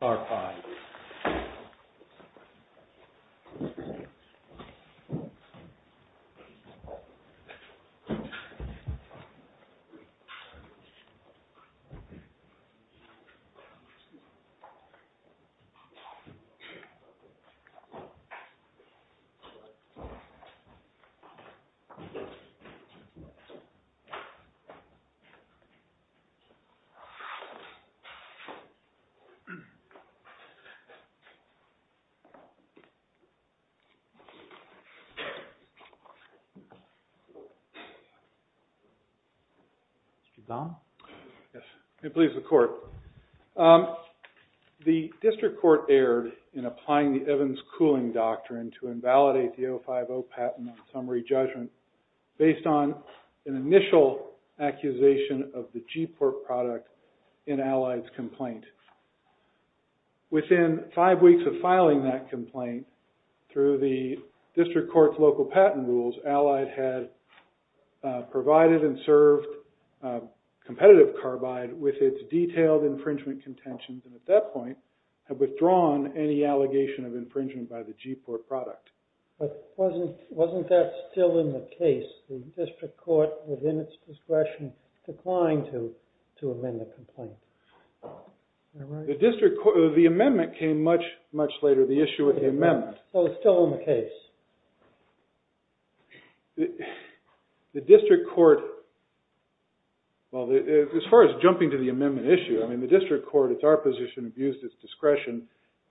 v. It please the court. The district court erred in applying the Evans cooling doctrine to invalidate the 050 patent on summary judgment based on an initial accusation of the G-Port product in Allied's complaint. Within five weeks of filing that complaint, through the district court's local patent rules, Allied had provided and served competitive carbide with its detailed infringement contentions and at that point had withdrawn any allegation of infringement by the G-Port product. But wasn't that still in the case? The district court, within its discretion, declined to amend the complaint. The district court, the amendment came much, much later. The issue with the amendment. So it's still in the case. The district court, well, as far as jumping to the amendment issue, I mean, the district court, it's our position, abused its discretion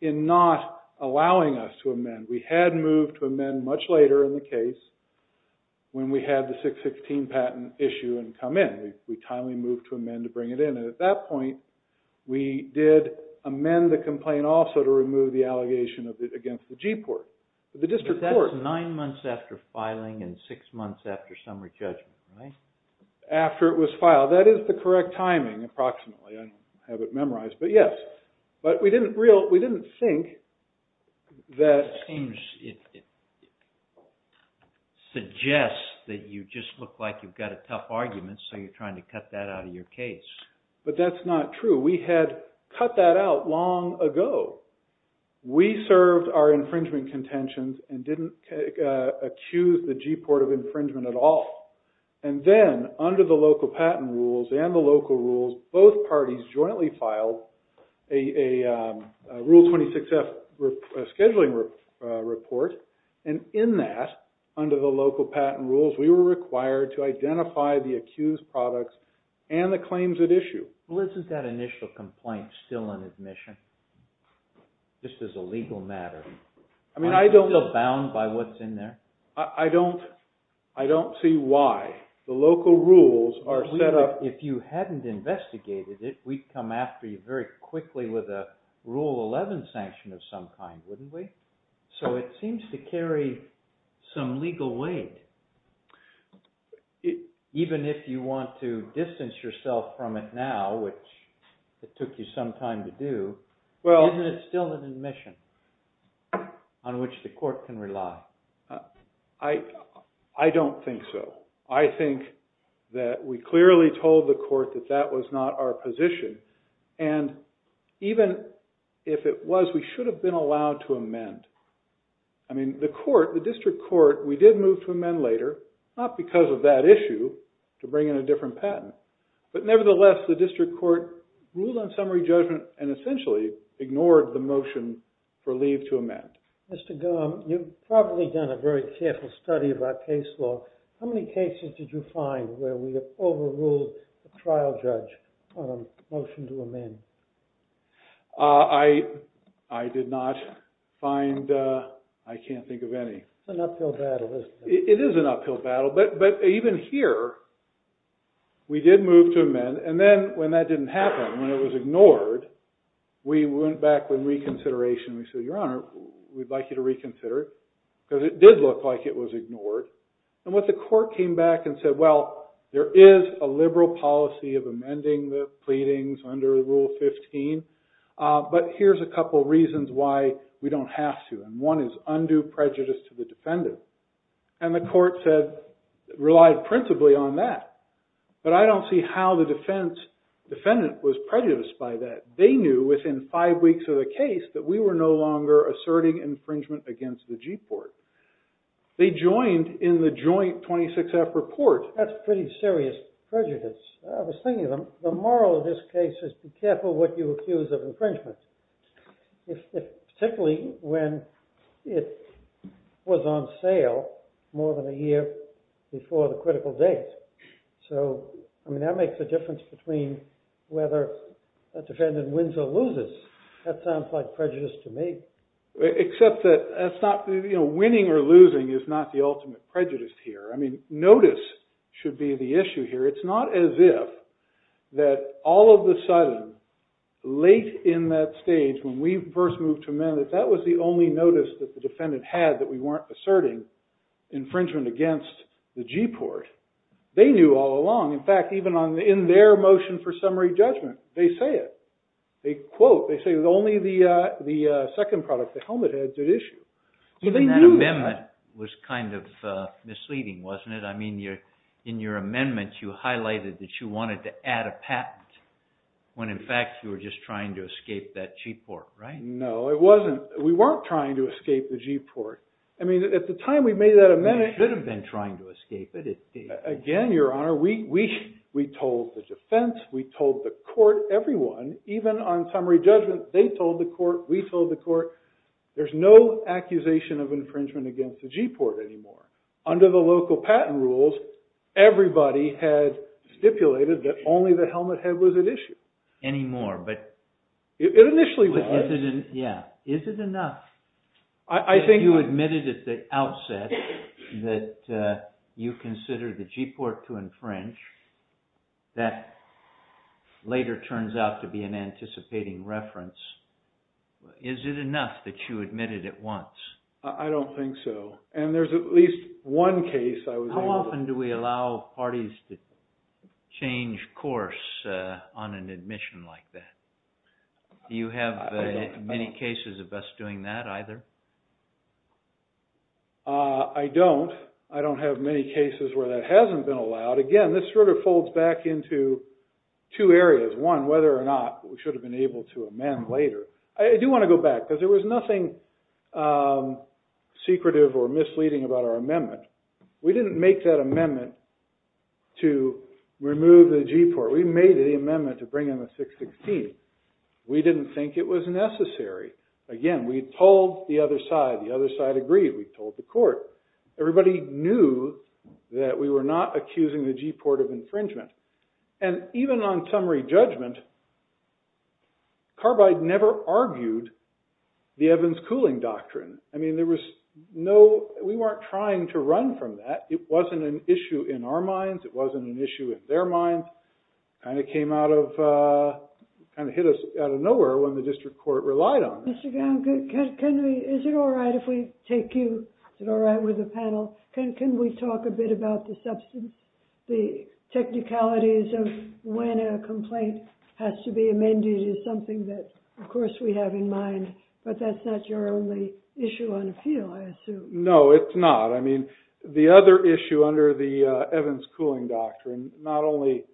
in not allowing us to amend. And we had moved to amend much later in the case when we had the 616 patent issue and come in. We timely moved to amend to bring it in and at that point we did amend the complaint also to remove the allegation against the G-Port. The district court. But that's nine months after filing and six months after summary judgment, right? After it was filed. That is the correct timing, approximately, I have it memorized, but yes. But we didn't think that... It seems it suggests that you just look like you've got a tough argument so you're trying to cut that out of your case. But that's not true. We had cut that out long ago. We served our infringement contentions and didn't accuse the G-Port of infringement at all. And then, under the local patent rules and the local rules, both parties jointly filed a Rule 26-F scheduling report and in that, under the local patent rules, we were required to identify the accused products and the claims at issue. Well, is that initial complaint still on admission just as a legal matter? I mean, I don't... Is it still bound by what's in there? I don't see why. The local rules are set up... If you hadn't investigated it, we'd come after you very quickly with a Rule 11 sanction of some kind, wouldn't we? So it seems to carry some legal weight. Even if you want to distance yourself from it now, which it took you some time to do, isn't it still an admission on which the court can rely? I don't think so. I think that we clearly told the court that that was not our position. And even if it was, we should have been allowed to amend. I mean, the court, the district court, we did move to amend later, not because of that issue to bring in a different patent. But nevertheless, the district court ruled on summary judgment and essentially ignored the motion for leave to amend. Mr. Gumm, you've probably done a very careful study of our case law. How many cases did you find where we overruled a trial judge on a motion to amend? I did not find... I can't think of any. It's an uphill battle, isn't it? It is an uphill battle, but even here, we did move to amend. And then when that didn't happen, when it was ignored, we went back with reconsideration and we said, Your Honor, we'd like you to reconsider it, because it did look like it was ignored. And what the court came back and said, well, there is a liberal policy of amending the pleadings under Rule 15, but here's a couple of reasons why we don't have to, and one is undue prejudice to the defendant. And the court said, relied principally on that. But I don't see how the defendant was prejudiced by that. They knew within five weeks of the case that we were no longer asserting infringement against the G-Court. They joined in the joint 26-F report. That's pretty serious prejudice. I was thinking of them. The moral of this case is be careful what you accuse of infringement, particularly when it was on sale more than a year before the critical date. So I mean, that makes a difference between whether a defendant wins or loses. That sounds like prejudice to me. Except that winning or losing is not the ultimate prejudice here. I mean, notice should be the issue here. It's not as if that all of the sudden, late in that stage, when we first moved to amend it, that was the only notice that the defendant had that we weren't asserting infringement against the G-Court. They knew all along. In fact, even in their motion for summary judgment, they say it. They quote, they say only the second product, the helmet head, did issue. That amendment was kind of misleading, wasn't it? I mean, in your amendment, you highlighted that you wanted to add a patent when in fact you were just trying to escape that G-Court, right? No, it wasn't. We weren't trying to escape the G-Court. I mean, at the time we made that amendment. You should have been trying to escape it. Again, Your Honor, we told the defense. We told the court, everyone. Even on summary judgment, they told the court. We told the court. There's no accusation of infringement against the G-Court anymore. Under the local patent rules, everybody had stipulated that only the helmet head was at issue. Anymore, but. It initially was. Yeah. Is it enough? I think. You admitted at the outset that you considered the G-Court to infringe. That later turns out to be an anticipating reference. Is it enough that you admitted at once? I don't think so. And there's at least one case I was able to. How often do we allow parties to change course on an admission like that? Do you have many cases of us doing that either? I don't. I don't have many cases where that hasn't been allowed. Again, this sort of folds back into two areas. One, whether or not we should have been able to amend later. I do want to go back, because there was nothing secretive or misleading about our amendment. We didn't make that amendment to remove the G-Court. We made the amendment to bring in the 616. We didn't think it was necessary. Again, we told the other side. The other side agreed. We told the court. Everybody knew that we were not accusing the G-Court of infringement. And even on summary judgment, Carbide never argued the Evans cooling doctrine. I mean, there was no. We weren't trying to run from that. It wasn't an issue in our minds. It wasn't an issue in their minds. And it came out of, kind of hit us out of nowhere when the district court relied on it. Mr. Gown, is it all right if we take you, is it all right with the panel, can we talk a bit about the technicalities of when a complaint has to be amended is something that, of course, we have in mind. But that's not your only issue on the field, I assume. No, it's not. The other issue under the Evans cooling doctrine, not only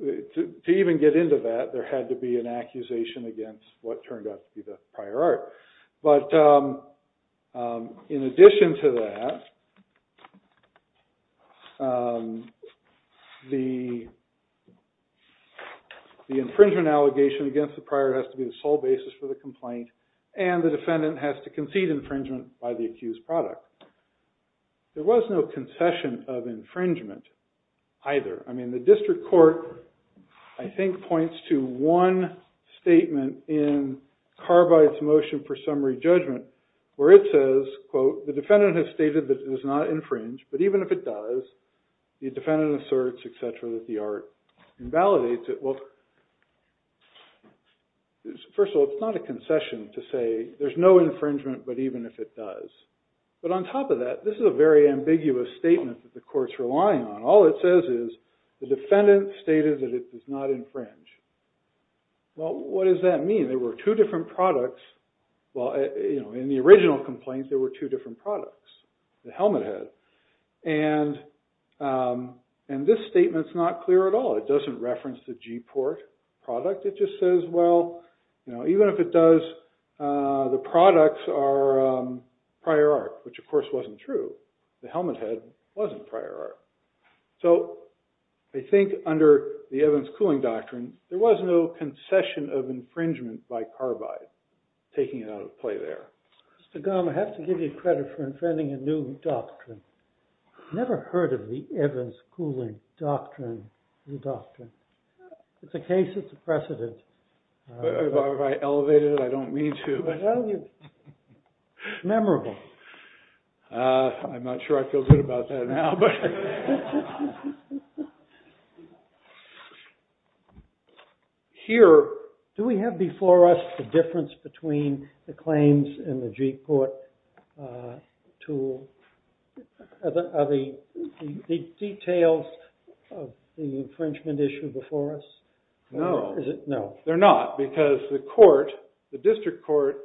to even get into that, there had to be an accusation against what turned out to be the prior art. But in addition to that, the infringement allegation against the prior has to be the sole basis for the complaint. And the defendant has to concede infringement by the accused product. There was no concession of infringement either. I mean, the district court, I think, points to one statement in Carbide's motion for summary judgment where it says, quote, the defendant has stated that it does not infringe. But even if it does, the defendant asserts, et cetera, that the art invalidates it. Well, first of all, it's not a concession to say there's no infringement, but even if it does. But on top of that, this is a very ambiguous statement that the court's relying on. All it says is the defendant stated that it does not infringe. Well, what does that mean? There were two different products. Well, in the original complaints, there were two different products, the helmet head. And this statement's not clear at all. It doesn't reference the Gport product. It just says, well, even if it does, the products are prior art, which, of course, wasn't true. The helmet head wasn't prior art. So I think under the evidence cooling doctrine, there was no concession of infringement by Carbide taking it out of play there. Mr. Gumm, I have to give you credit for inventing a new doctrine. Never heard of the evidence cooling doctrine, new doctrine. It's a case. It's a precedent. Have I elevated it? I don't mean to. Memorable. I'm not sure I feel good about that now. But here, do we have before us the difference between the claims and the Gport tool? Are the details of the infringement issue before us? No. No. They're not, because the court, the district court,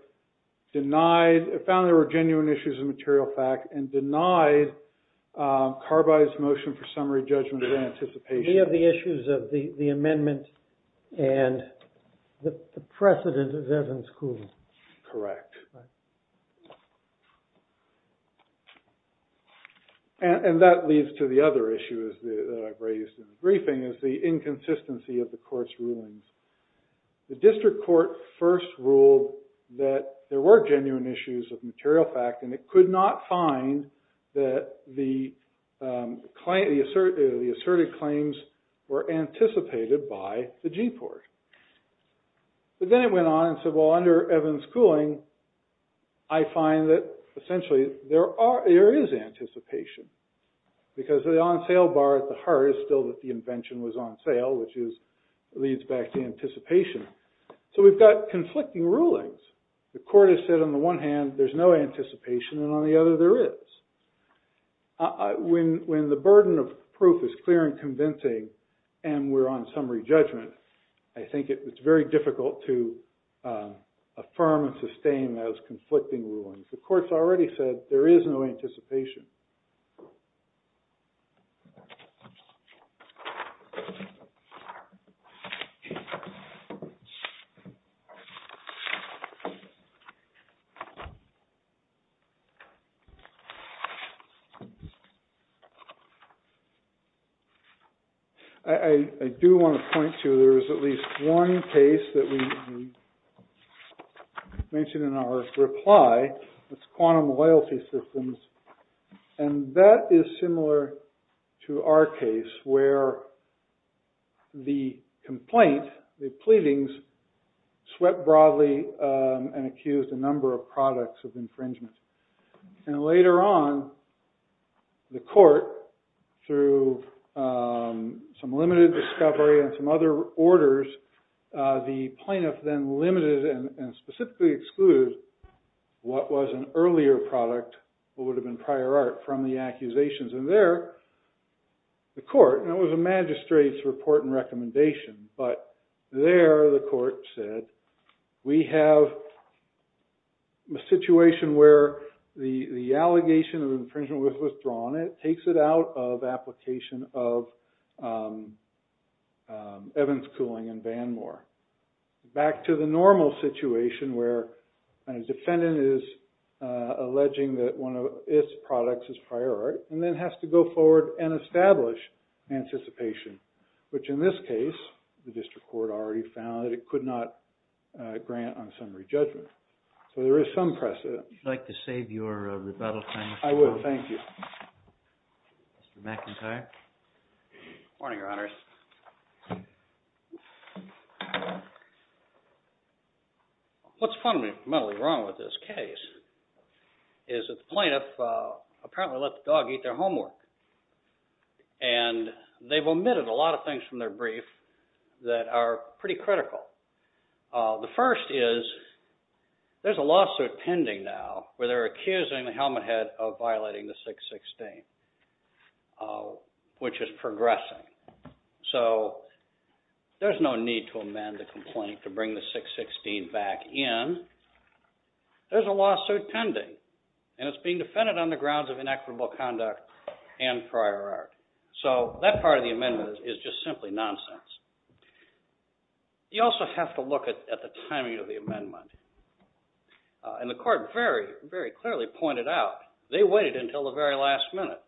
found there were genuine issues of material fact and denied Carbide's motion for summary judgment of anticipation. We have the issues of the amendment and the precedent of evidence cooling. Correct. And that leads to the other issue that I've raised in the briefing, is the inconsistency of the court's rulings. The district court first ruled that there were genuine issues of material fact, and it could not find that the asserted claims were anticipated by the Gport. But then it went on and said, well, under evidence cooling, I find that essentially there is anticipation. Because the on-sale bar at the heart is still that the invention was on sale, which leads back to anticipation. So we've got conflicting rulings. The court has said, on the one hand, there's no anticipation, and on the other, there is. When the burden of proof is clear and convincing, and we're on summary judgment, I think it's very difficult to affirm and sustain those conflicting rulings. The court's already said there is no anticipation. I do want to point to there is at least one case that we mentioned in our reply. It's quantum loyalty systems. And that is similar to our case, where the complaint, the pleadings, swept broadly and accused a number of products of infringement. And later on, the court, through some limited discovery and some other orders, the plaintiff then limited and specifically excluded what was an earlier product, what would have been prior art, from the accusations. And there, the court, and it was a magistrate's report and recommendation, but there, the court said, we have a situation where the allegation of infringement was withdrawn. It takes it out of application of Evans Cooling and Vanmore. Back to the normal situation, where a defendant is alleging that one of its products is prior art, and then has to go forward and establish anticipation, which in this case, the district court already found that it could not grant unsummary judgment. So there is some precedent. Would you like to save your rebuttal time? I would. Thank you. Mr. McIntyre? Morning, Your Honors. What's fundamentally wrong with this case is that the plaintiff apparently let the dog eat their homework. And they've omitted a lot of things from their brief that are pretty critical. The first is, there's a lawsuit pending now, where they're accusing the helmet head of violating the 616, which is progressing. So there's no need to amend the complaint to bring the 616 back in. There's a lawsuit pending, and it's being defended on the grounds of inequitable conduct and prior art. So that part of the amendment is just simply nonsense. You also have to look at the timing of the amendment. And the court very, very clearly pointed out, they waited until the very last minute.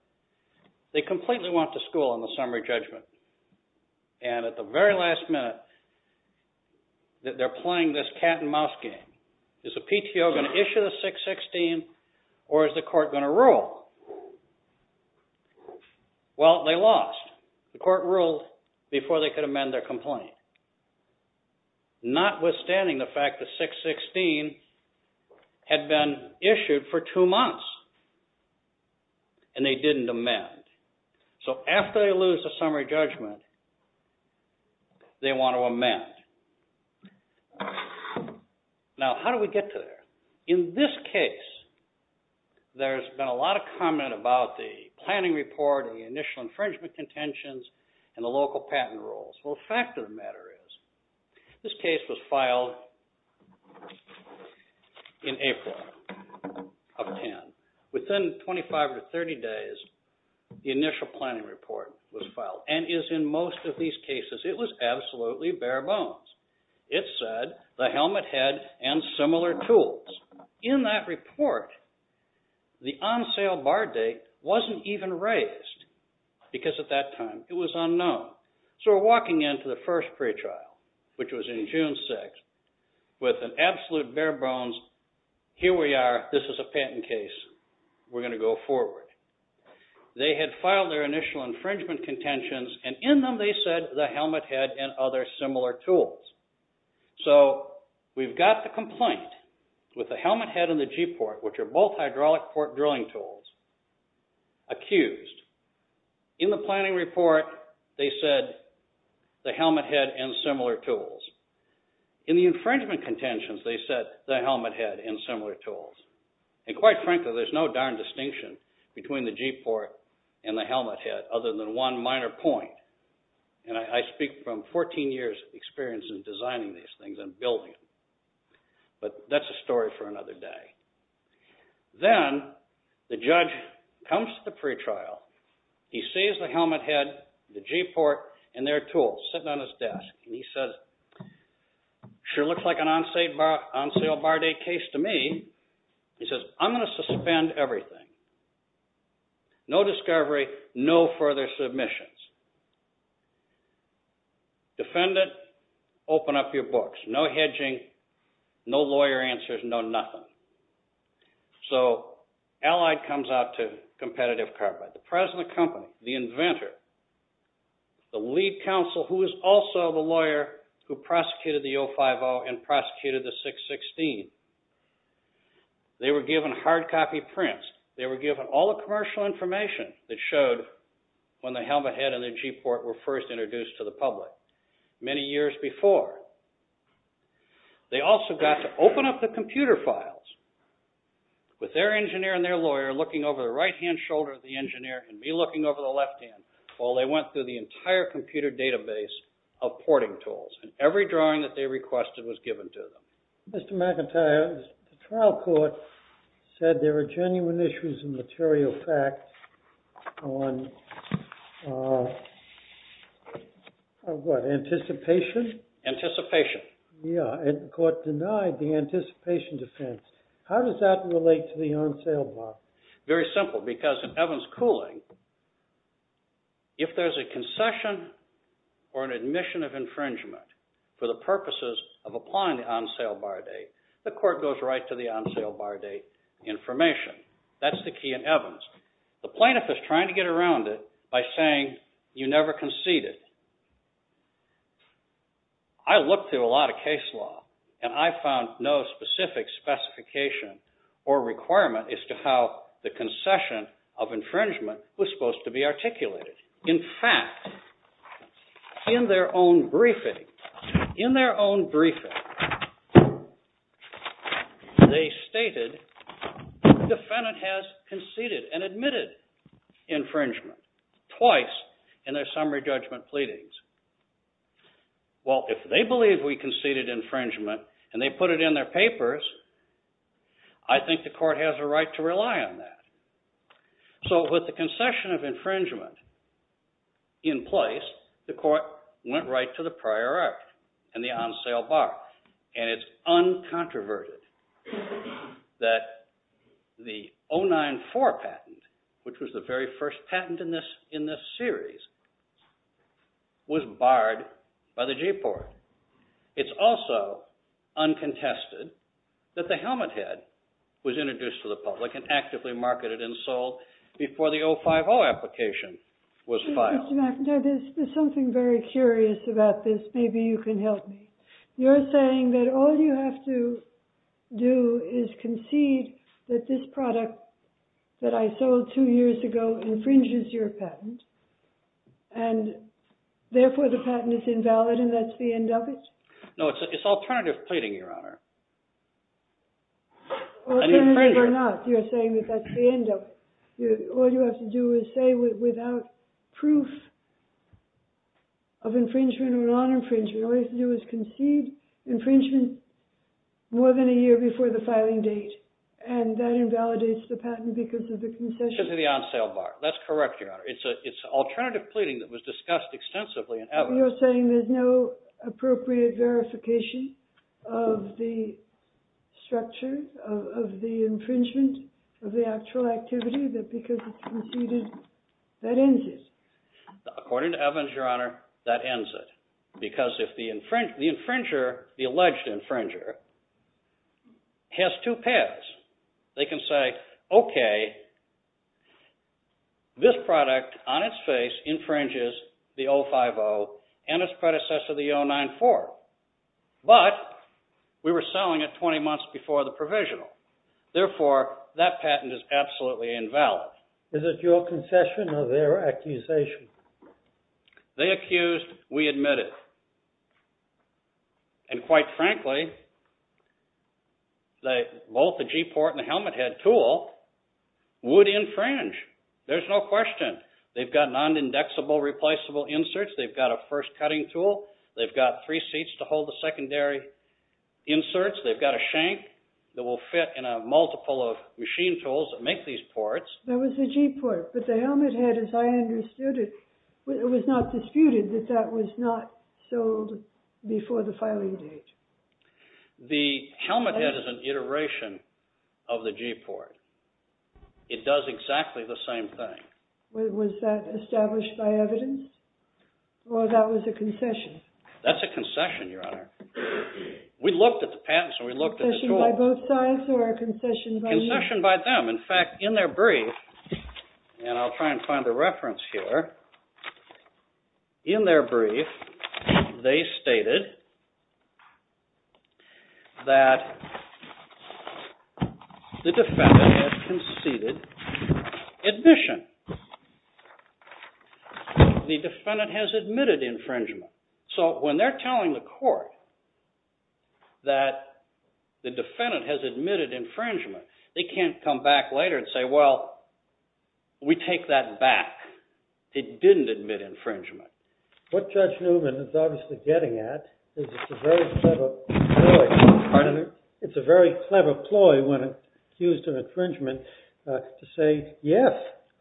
They completely went to school on the summary judgment. And at the very last minute, they're playing this cat and mouse game. Is the PTO going to issue the 616, or is the court going to rule? Well, they lost. The court ruled before they could amend their complaint, notwithstanding the fact the 616 had been issued for two months. And they didn't amend. So after they lose the summary judgment, they want to amend. Now, how do we get to there? In this case, there's been a lot of comment about the planning report, the initial infringement contentions, and the local patent rules. Well, the fact of the matter is, this case was filed in April of 10. Within 25 or 30 days, the initial planning report was filed. And as in most of these cases, it was absolutely bare bones. It said, the helmet head and similar tools. In that report, the on-sale bar date wasn't even raised, because at that time, it was unknown. So we're walking into the first pretrial, which was in June 6, with an absolute bare bones. Here we are. This is a patent case. We're going to go forward. They had filed their initial infringement contentions. And in them, they said, the helmet head and other similar tools. So we've got the complaint with the helmet head and the G-port, which are both hydraulic port drilling tools, accused. In the planning report, they said, the helmet head and similar tools. In the infringement contentions, they said, the helmet head and similar tools. And quite frankly, there's no darn distinction between the G-port and the helmet head, other than one minor point. And I speak from 14 years' experience in designing these things and building them. But that's a story for another day. Then, the judge comes to the pretrial. He sees the helmet head, the G-port, and their tools sitting on his desk. And he says, sure looks like an on-sale bar date case to me. He says, I'm going to suspend everything. No discovery, no further submissions. Defendant, open up your books. No hedging, no lawyer answers, no nothing. So Allied comes out to competitive carbide. The president of the company, the inventor, the lead counsel, who is also the lawyer who prosecuted the 050 and prosecuted the 616, they were given hard copy prints. They were given all the commercial information that showed when the helmet head and the G-port were first introduced to the public many years before. They also got to open up the computer files with their engineer and their lawyer looking over the right-hand shoulder of the engineer and me looking over the left hand while they went through the entire computer database of porting tools. And every drawing that they requested was given to them. Mr. McIntyre, the trial court said there were genuine issues and material facts on what? Anticipation? Anticipation. Yeah, and the court denied the anticipation defense. How does that relate to the on-sale bar? Very simple, because in Evans Cooling, if there's a concession or an admission of infringement for the purposes of applying the on-sale bar date, the court goes right to the on-sale bar date information. That's the key in Evans. The plaintiff is trying to get around it by saying you never conceded. I looked through a lot of case law, and I found no specific specification or requirement as to how the concession of infringement was supposed to be articulated. In fact, in their own briefing, they stated the defendant has conceded and admitted infringement twice in their summary judgment pleadings. Well, if they believe we conceded infringement and they put it in their papers, I think the court has a right to rely on that. So with the concession of infringement in place, the court went right to the prior act and the on-sale bar. And it's uncontroverted that the 094 patent, which was the very first patent in this series, was barred by the G Court. It's also uncontested that the helmet head was introduced to the public and actively marketed and sold before the 050 application was filed. Now, there's something very curious about this. Maybe you can help me. You're saying that all you have to do is concede that this product that I sold two years ago infringes your patent, and therefore the patent is invalid, and that's the end of it? No, it's alternative pleading, Your Honor. An infringement. Alternative or not, you're saying that that's the end of it. All you have to do is say, without proof of infringement or non-infringement, all you have to do is concede infringement more than a year before the filing date. And that invalidates the patent because of the concession. Because of the on-sale bar. That's correct, Your Honor. It's alternative pleading that was discussed extensively in evidence. You're saying there's no appropriate verification of the structure of the infringement of the actual activity, that because it's conceded, that ends it? According to evidence, Your Honor, that ends it. Because if the infringer, the alleged infringer, has two paths. They can say, OK, this product on its face infringes the 050 and its predecessor, the 094. But we were selling it 20 months before the provisional. Therefore, that patent is absolutely invalid. Is it your concession or their accusation? They accused. We admitted. And quite frankly, both the G-port and the helmet head tool would infringe. There's no question. They've got non-indexable replaceable inserts. They've got a first cutting tool. They've got three seats to hold the secondary inserts. They've got a shank that will fit in a multiple of machine tools that make these ports. That was the G-port. But the helmet head, as I understood it, it was not disputed that that was not sold before the filing date. The helmet head is an iteration of the G-port. It does exactly the same thing. Was that established by evidence? Or that was a concession? That's a concession, Your Honor. We looked at the patents, and we looked at the tools. Concession by both sides, or a concession by each? Concession by them. In fact, in their brief, and I'll try and find a reference here, in their brief, they stated that the defendant had conceded admission. The defendant has admitted infringement. So when they're telling the court that the defendant has admitted infringement, they can't come back later and say, well, we take that back. It didn't admit infringement. What Judge Newman is obviously getting at is it's a very clever ploy when accused of infringement to say, yes.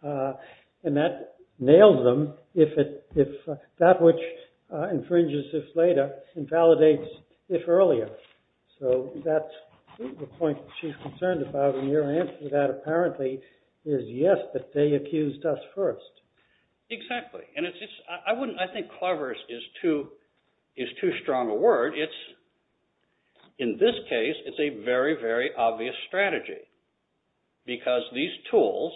And that nails them if that which infringes if later invalidates if earlier. So that's the point she's concerned about. And your answer to that apparently is, yes, but they accused us first. Exactly. And I think clever is too strong a word. In this case, it's a very, very obvious strategy. Because these tools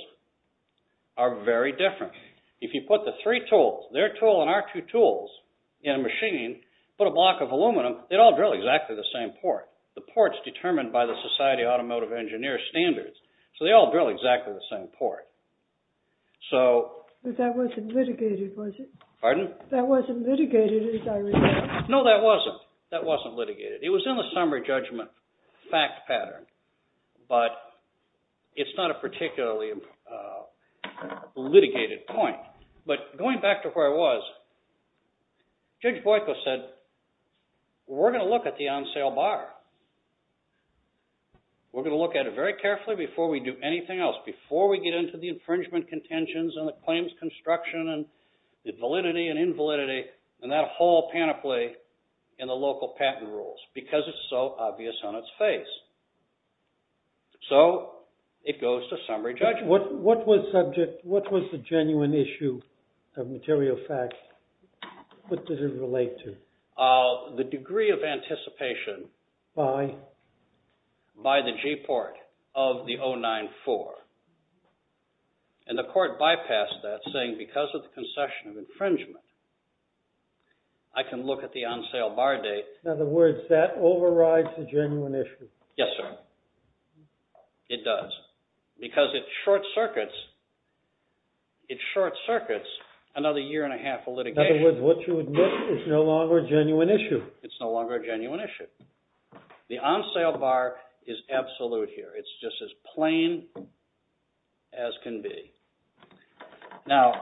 are very different. If you put the three tools, their tool and our two tools, in a machine, put a block of aluminum, they'd all drill exactly the same port. The port's determined by the Society Automotive Engineer standards. So they all drill exactly the same port. So. But that wasn't litigated, was it? Pardon? That wasn't litigated, as I recall. No, that wasn't. That wasn't litigated. It was in the summary judgment fact pattern. But it's not a particularly litigated point. But going back to where I was, Judge Boyko said, we're going to look at the on-sale bar. We're going to look at it very carefully before we do anything else, before we get into the infringement contentions and the claims construction and the validity and invalidity and that whole panoply in the local patent rules, because it's so obvious on its face. So it goes to summary judgment. What was the genuine issue of material fact? What did it relate to? The degree of anticipation by the G port of the 094. And the court bypassed that, saying, because of the concession of infringement, I can look at the on-sale bar date. In other words, that overrides the genuine issue. Yes, sir. It does. Because it short circuits another year and a half of litigation. In other words, what you admit is no longer a genuine issue. It's no longer a genuine issue. The on-sale bar is absolute here. It's just as plain as can be. Now,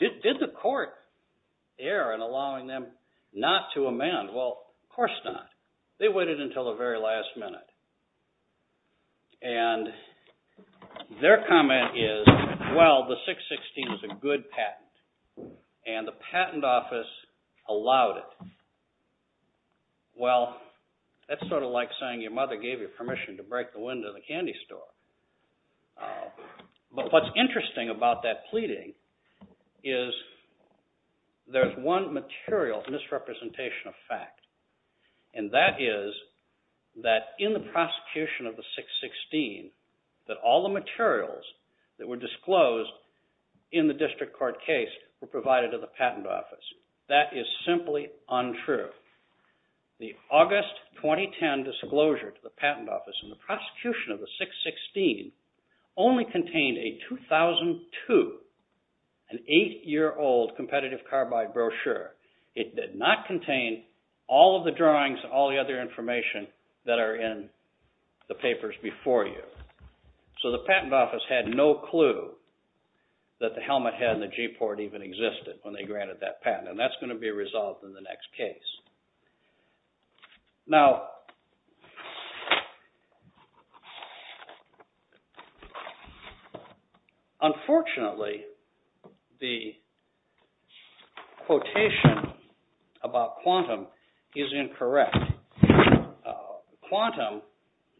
did the court err in allowing them not to amend? Well, of course not. They waited until the very last minute. And their comment is, well, the 616 is a good patent. And the patent office allowed it. Well, that's sort of like saying your mother gave you a candy store. But what's interesting about that pleading is there's one material misrepresentation of fact. And that is that in the prosecution of the 616, that all the materials that were disclosed in the district court case were provided to the patent office. That is simply untrue. The August 2010 disclosure to the patent office and the prosecution of the 616 only contained a 2002, an eight-year-old competitive carbide brochure. It did not contain all of the drawings and all the other information that are in the papers before you. So the patent office had no clue that the helmet head and the G port even existed when they granted that patent. And that's going to be resolved in the next case. Now, unfortunately, the quotation about quantum is incorrect.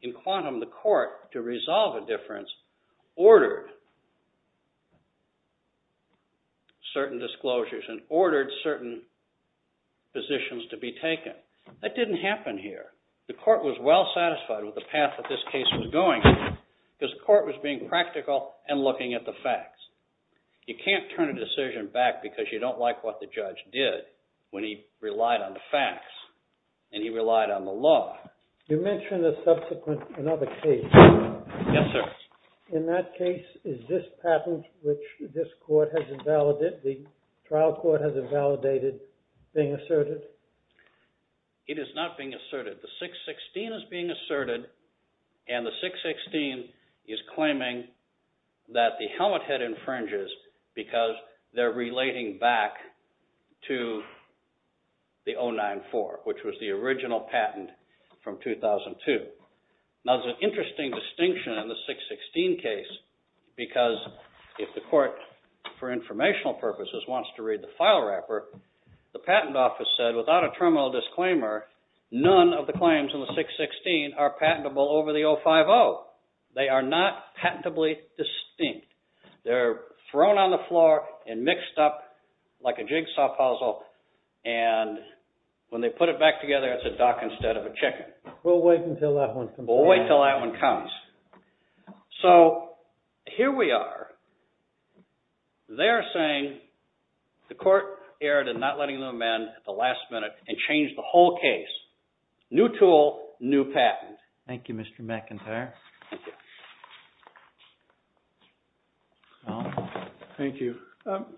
In quantum, the court, to resolve a difference, ordered certain disclosures and ordered certain positions to be taken. That didn't happen here. The court was well satisfied with the path that this case was going, because the court was being practical and looking at the facts. You can't turn a decision back because you don't like what the judge did when he relied on the facts and he relied on the law. You mentioned a subsequent, another case. Yes, sir. In that case, is this patent which this court has invalidated, the trial court has invalidated, being asserted? It is not being asserted. The 616 is being asserted, and the 616 is claiming that the helmet head infringes because they're relating back to the 094, which was the original patent from 2002. Now, there's an interesting distinction in the 616 case, because if the court, for informational purposes, wants to read the file wrapper, the patent office said, without a terminal disclaimer, none of the claims in the 616 are patentable over the 050. They are not patentably distinct. They're thrown on the floor and mixed up like a jigsaw puzzle. And when they put it back together, it's a duck instead of a chicken. We'll wait until that one comes. We'll wait until that one comes. So here we are. They're saying the court erred in not letting them amend at the last minute and changed the whole case. New tool, new patent. Thank you, Mr. McIntyre. Thank you. Thank you.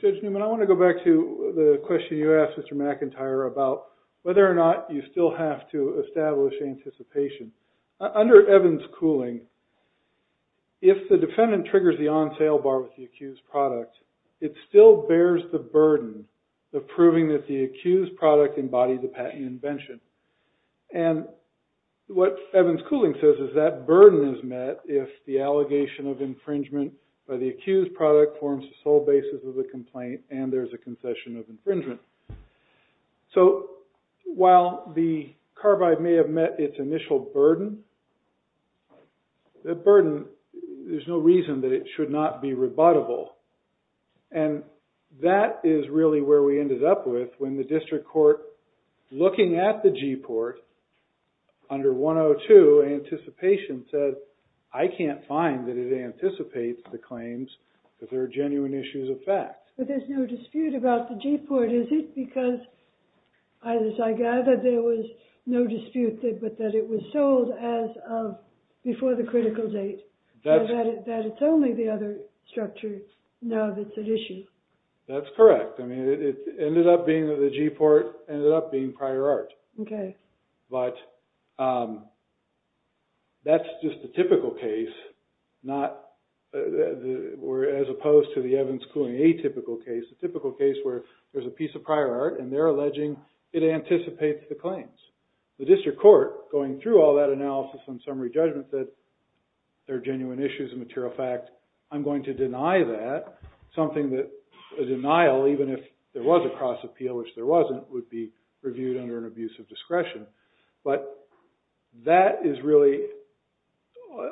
Judge Newman, I want to go back to the question you asked, Mr. McIntyre, about whether or not you still have to establish anticipation. Under Evans-Cooling, if the defendant triggers the on-sale bar with the accused product, it still bears the burden of proving that the accused product embodied the patent invention. And what Evans-Cooling says is that burden is met if the allegation of infringement by the accused product forms the sole basis of the complaint, and there's a concession of infringement. So while the carbide may have met its initial burden, that burden, there's no reason that it should not be rebuttable. And that is really where we ended up with when the district court, looking at the G-port, under 102, anticipation says, I can't find that it anticipates the claims that there are genuine issues of fact. But there's no dispute about the G-port is it, because as I gather, there was no dispute but that it was sold as of before the critical date, that it's only the other structure now that's at issue. That's correct. I mean, it ended up being that the G-port ended up being prior art. But that's just a typical case, as opposed to the Evans-Cooling atypical case, a typical case where there's a piece of prior art, and they're alleging it anticipates the claims. The district court, going through all that analysis and summary judgment that there are genuine issues of material fact, I'm going to deny that, something that a denial, even if there was a cross-appeal, which there wasn't, would be reviewed under an abuse of discretion. But that is really,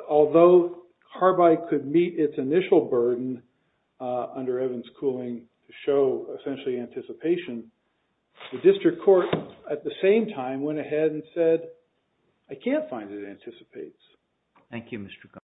although carbide could meet its initial burden under Evans-Cooling to show, essentially, anticipation, the district court, at the same time, went ahead and said, I can't find that it anticipates. Thank you, Mr. Cutler.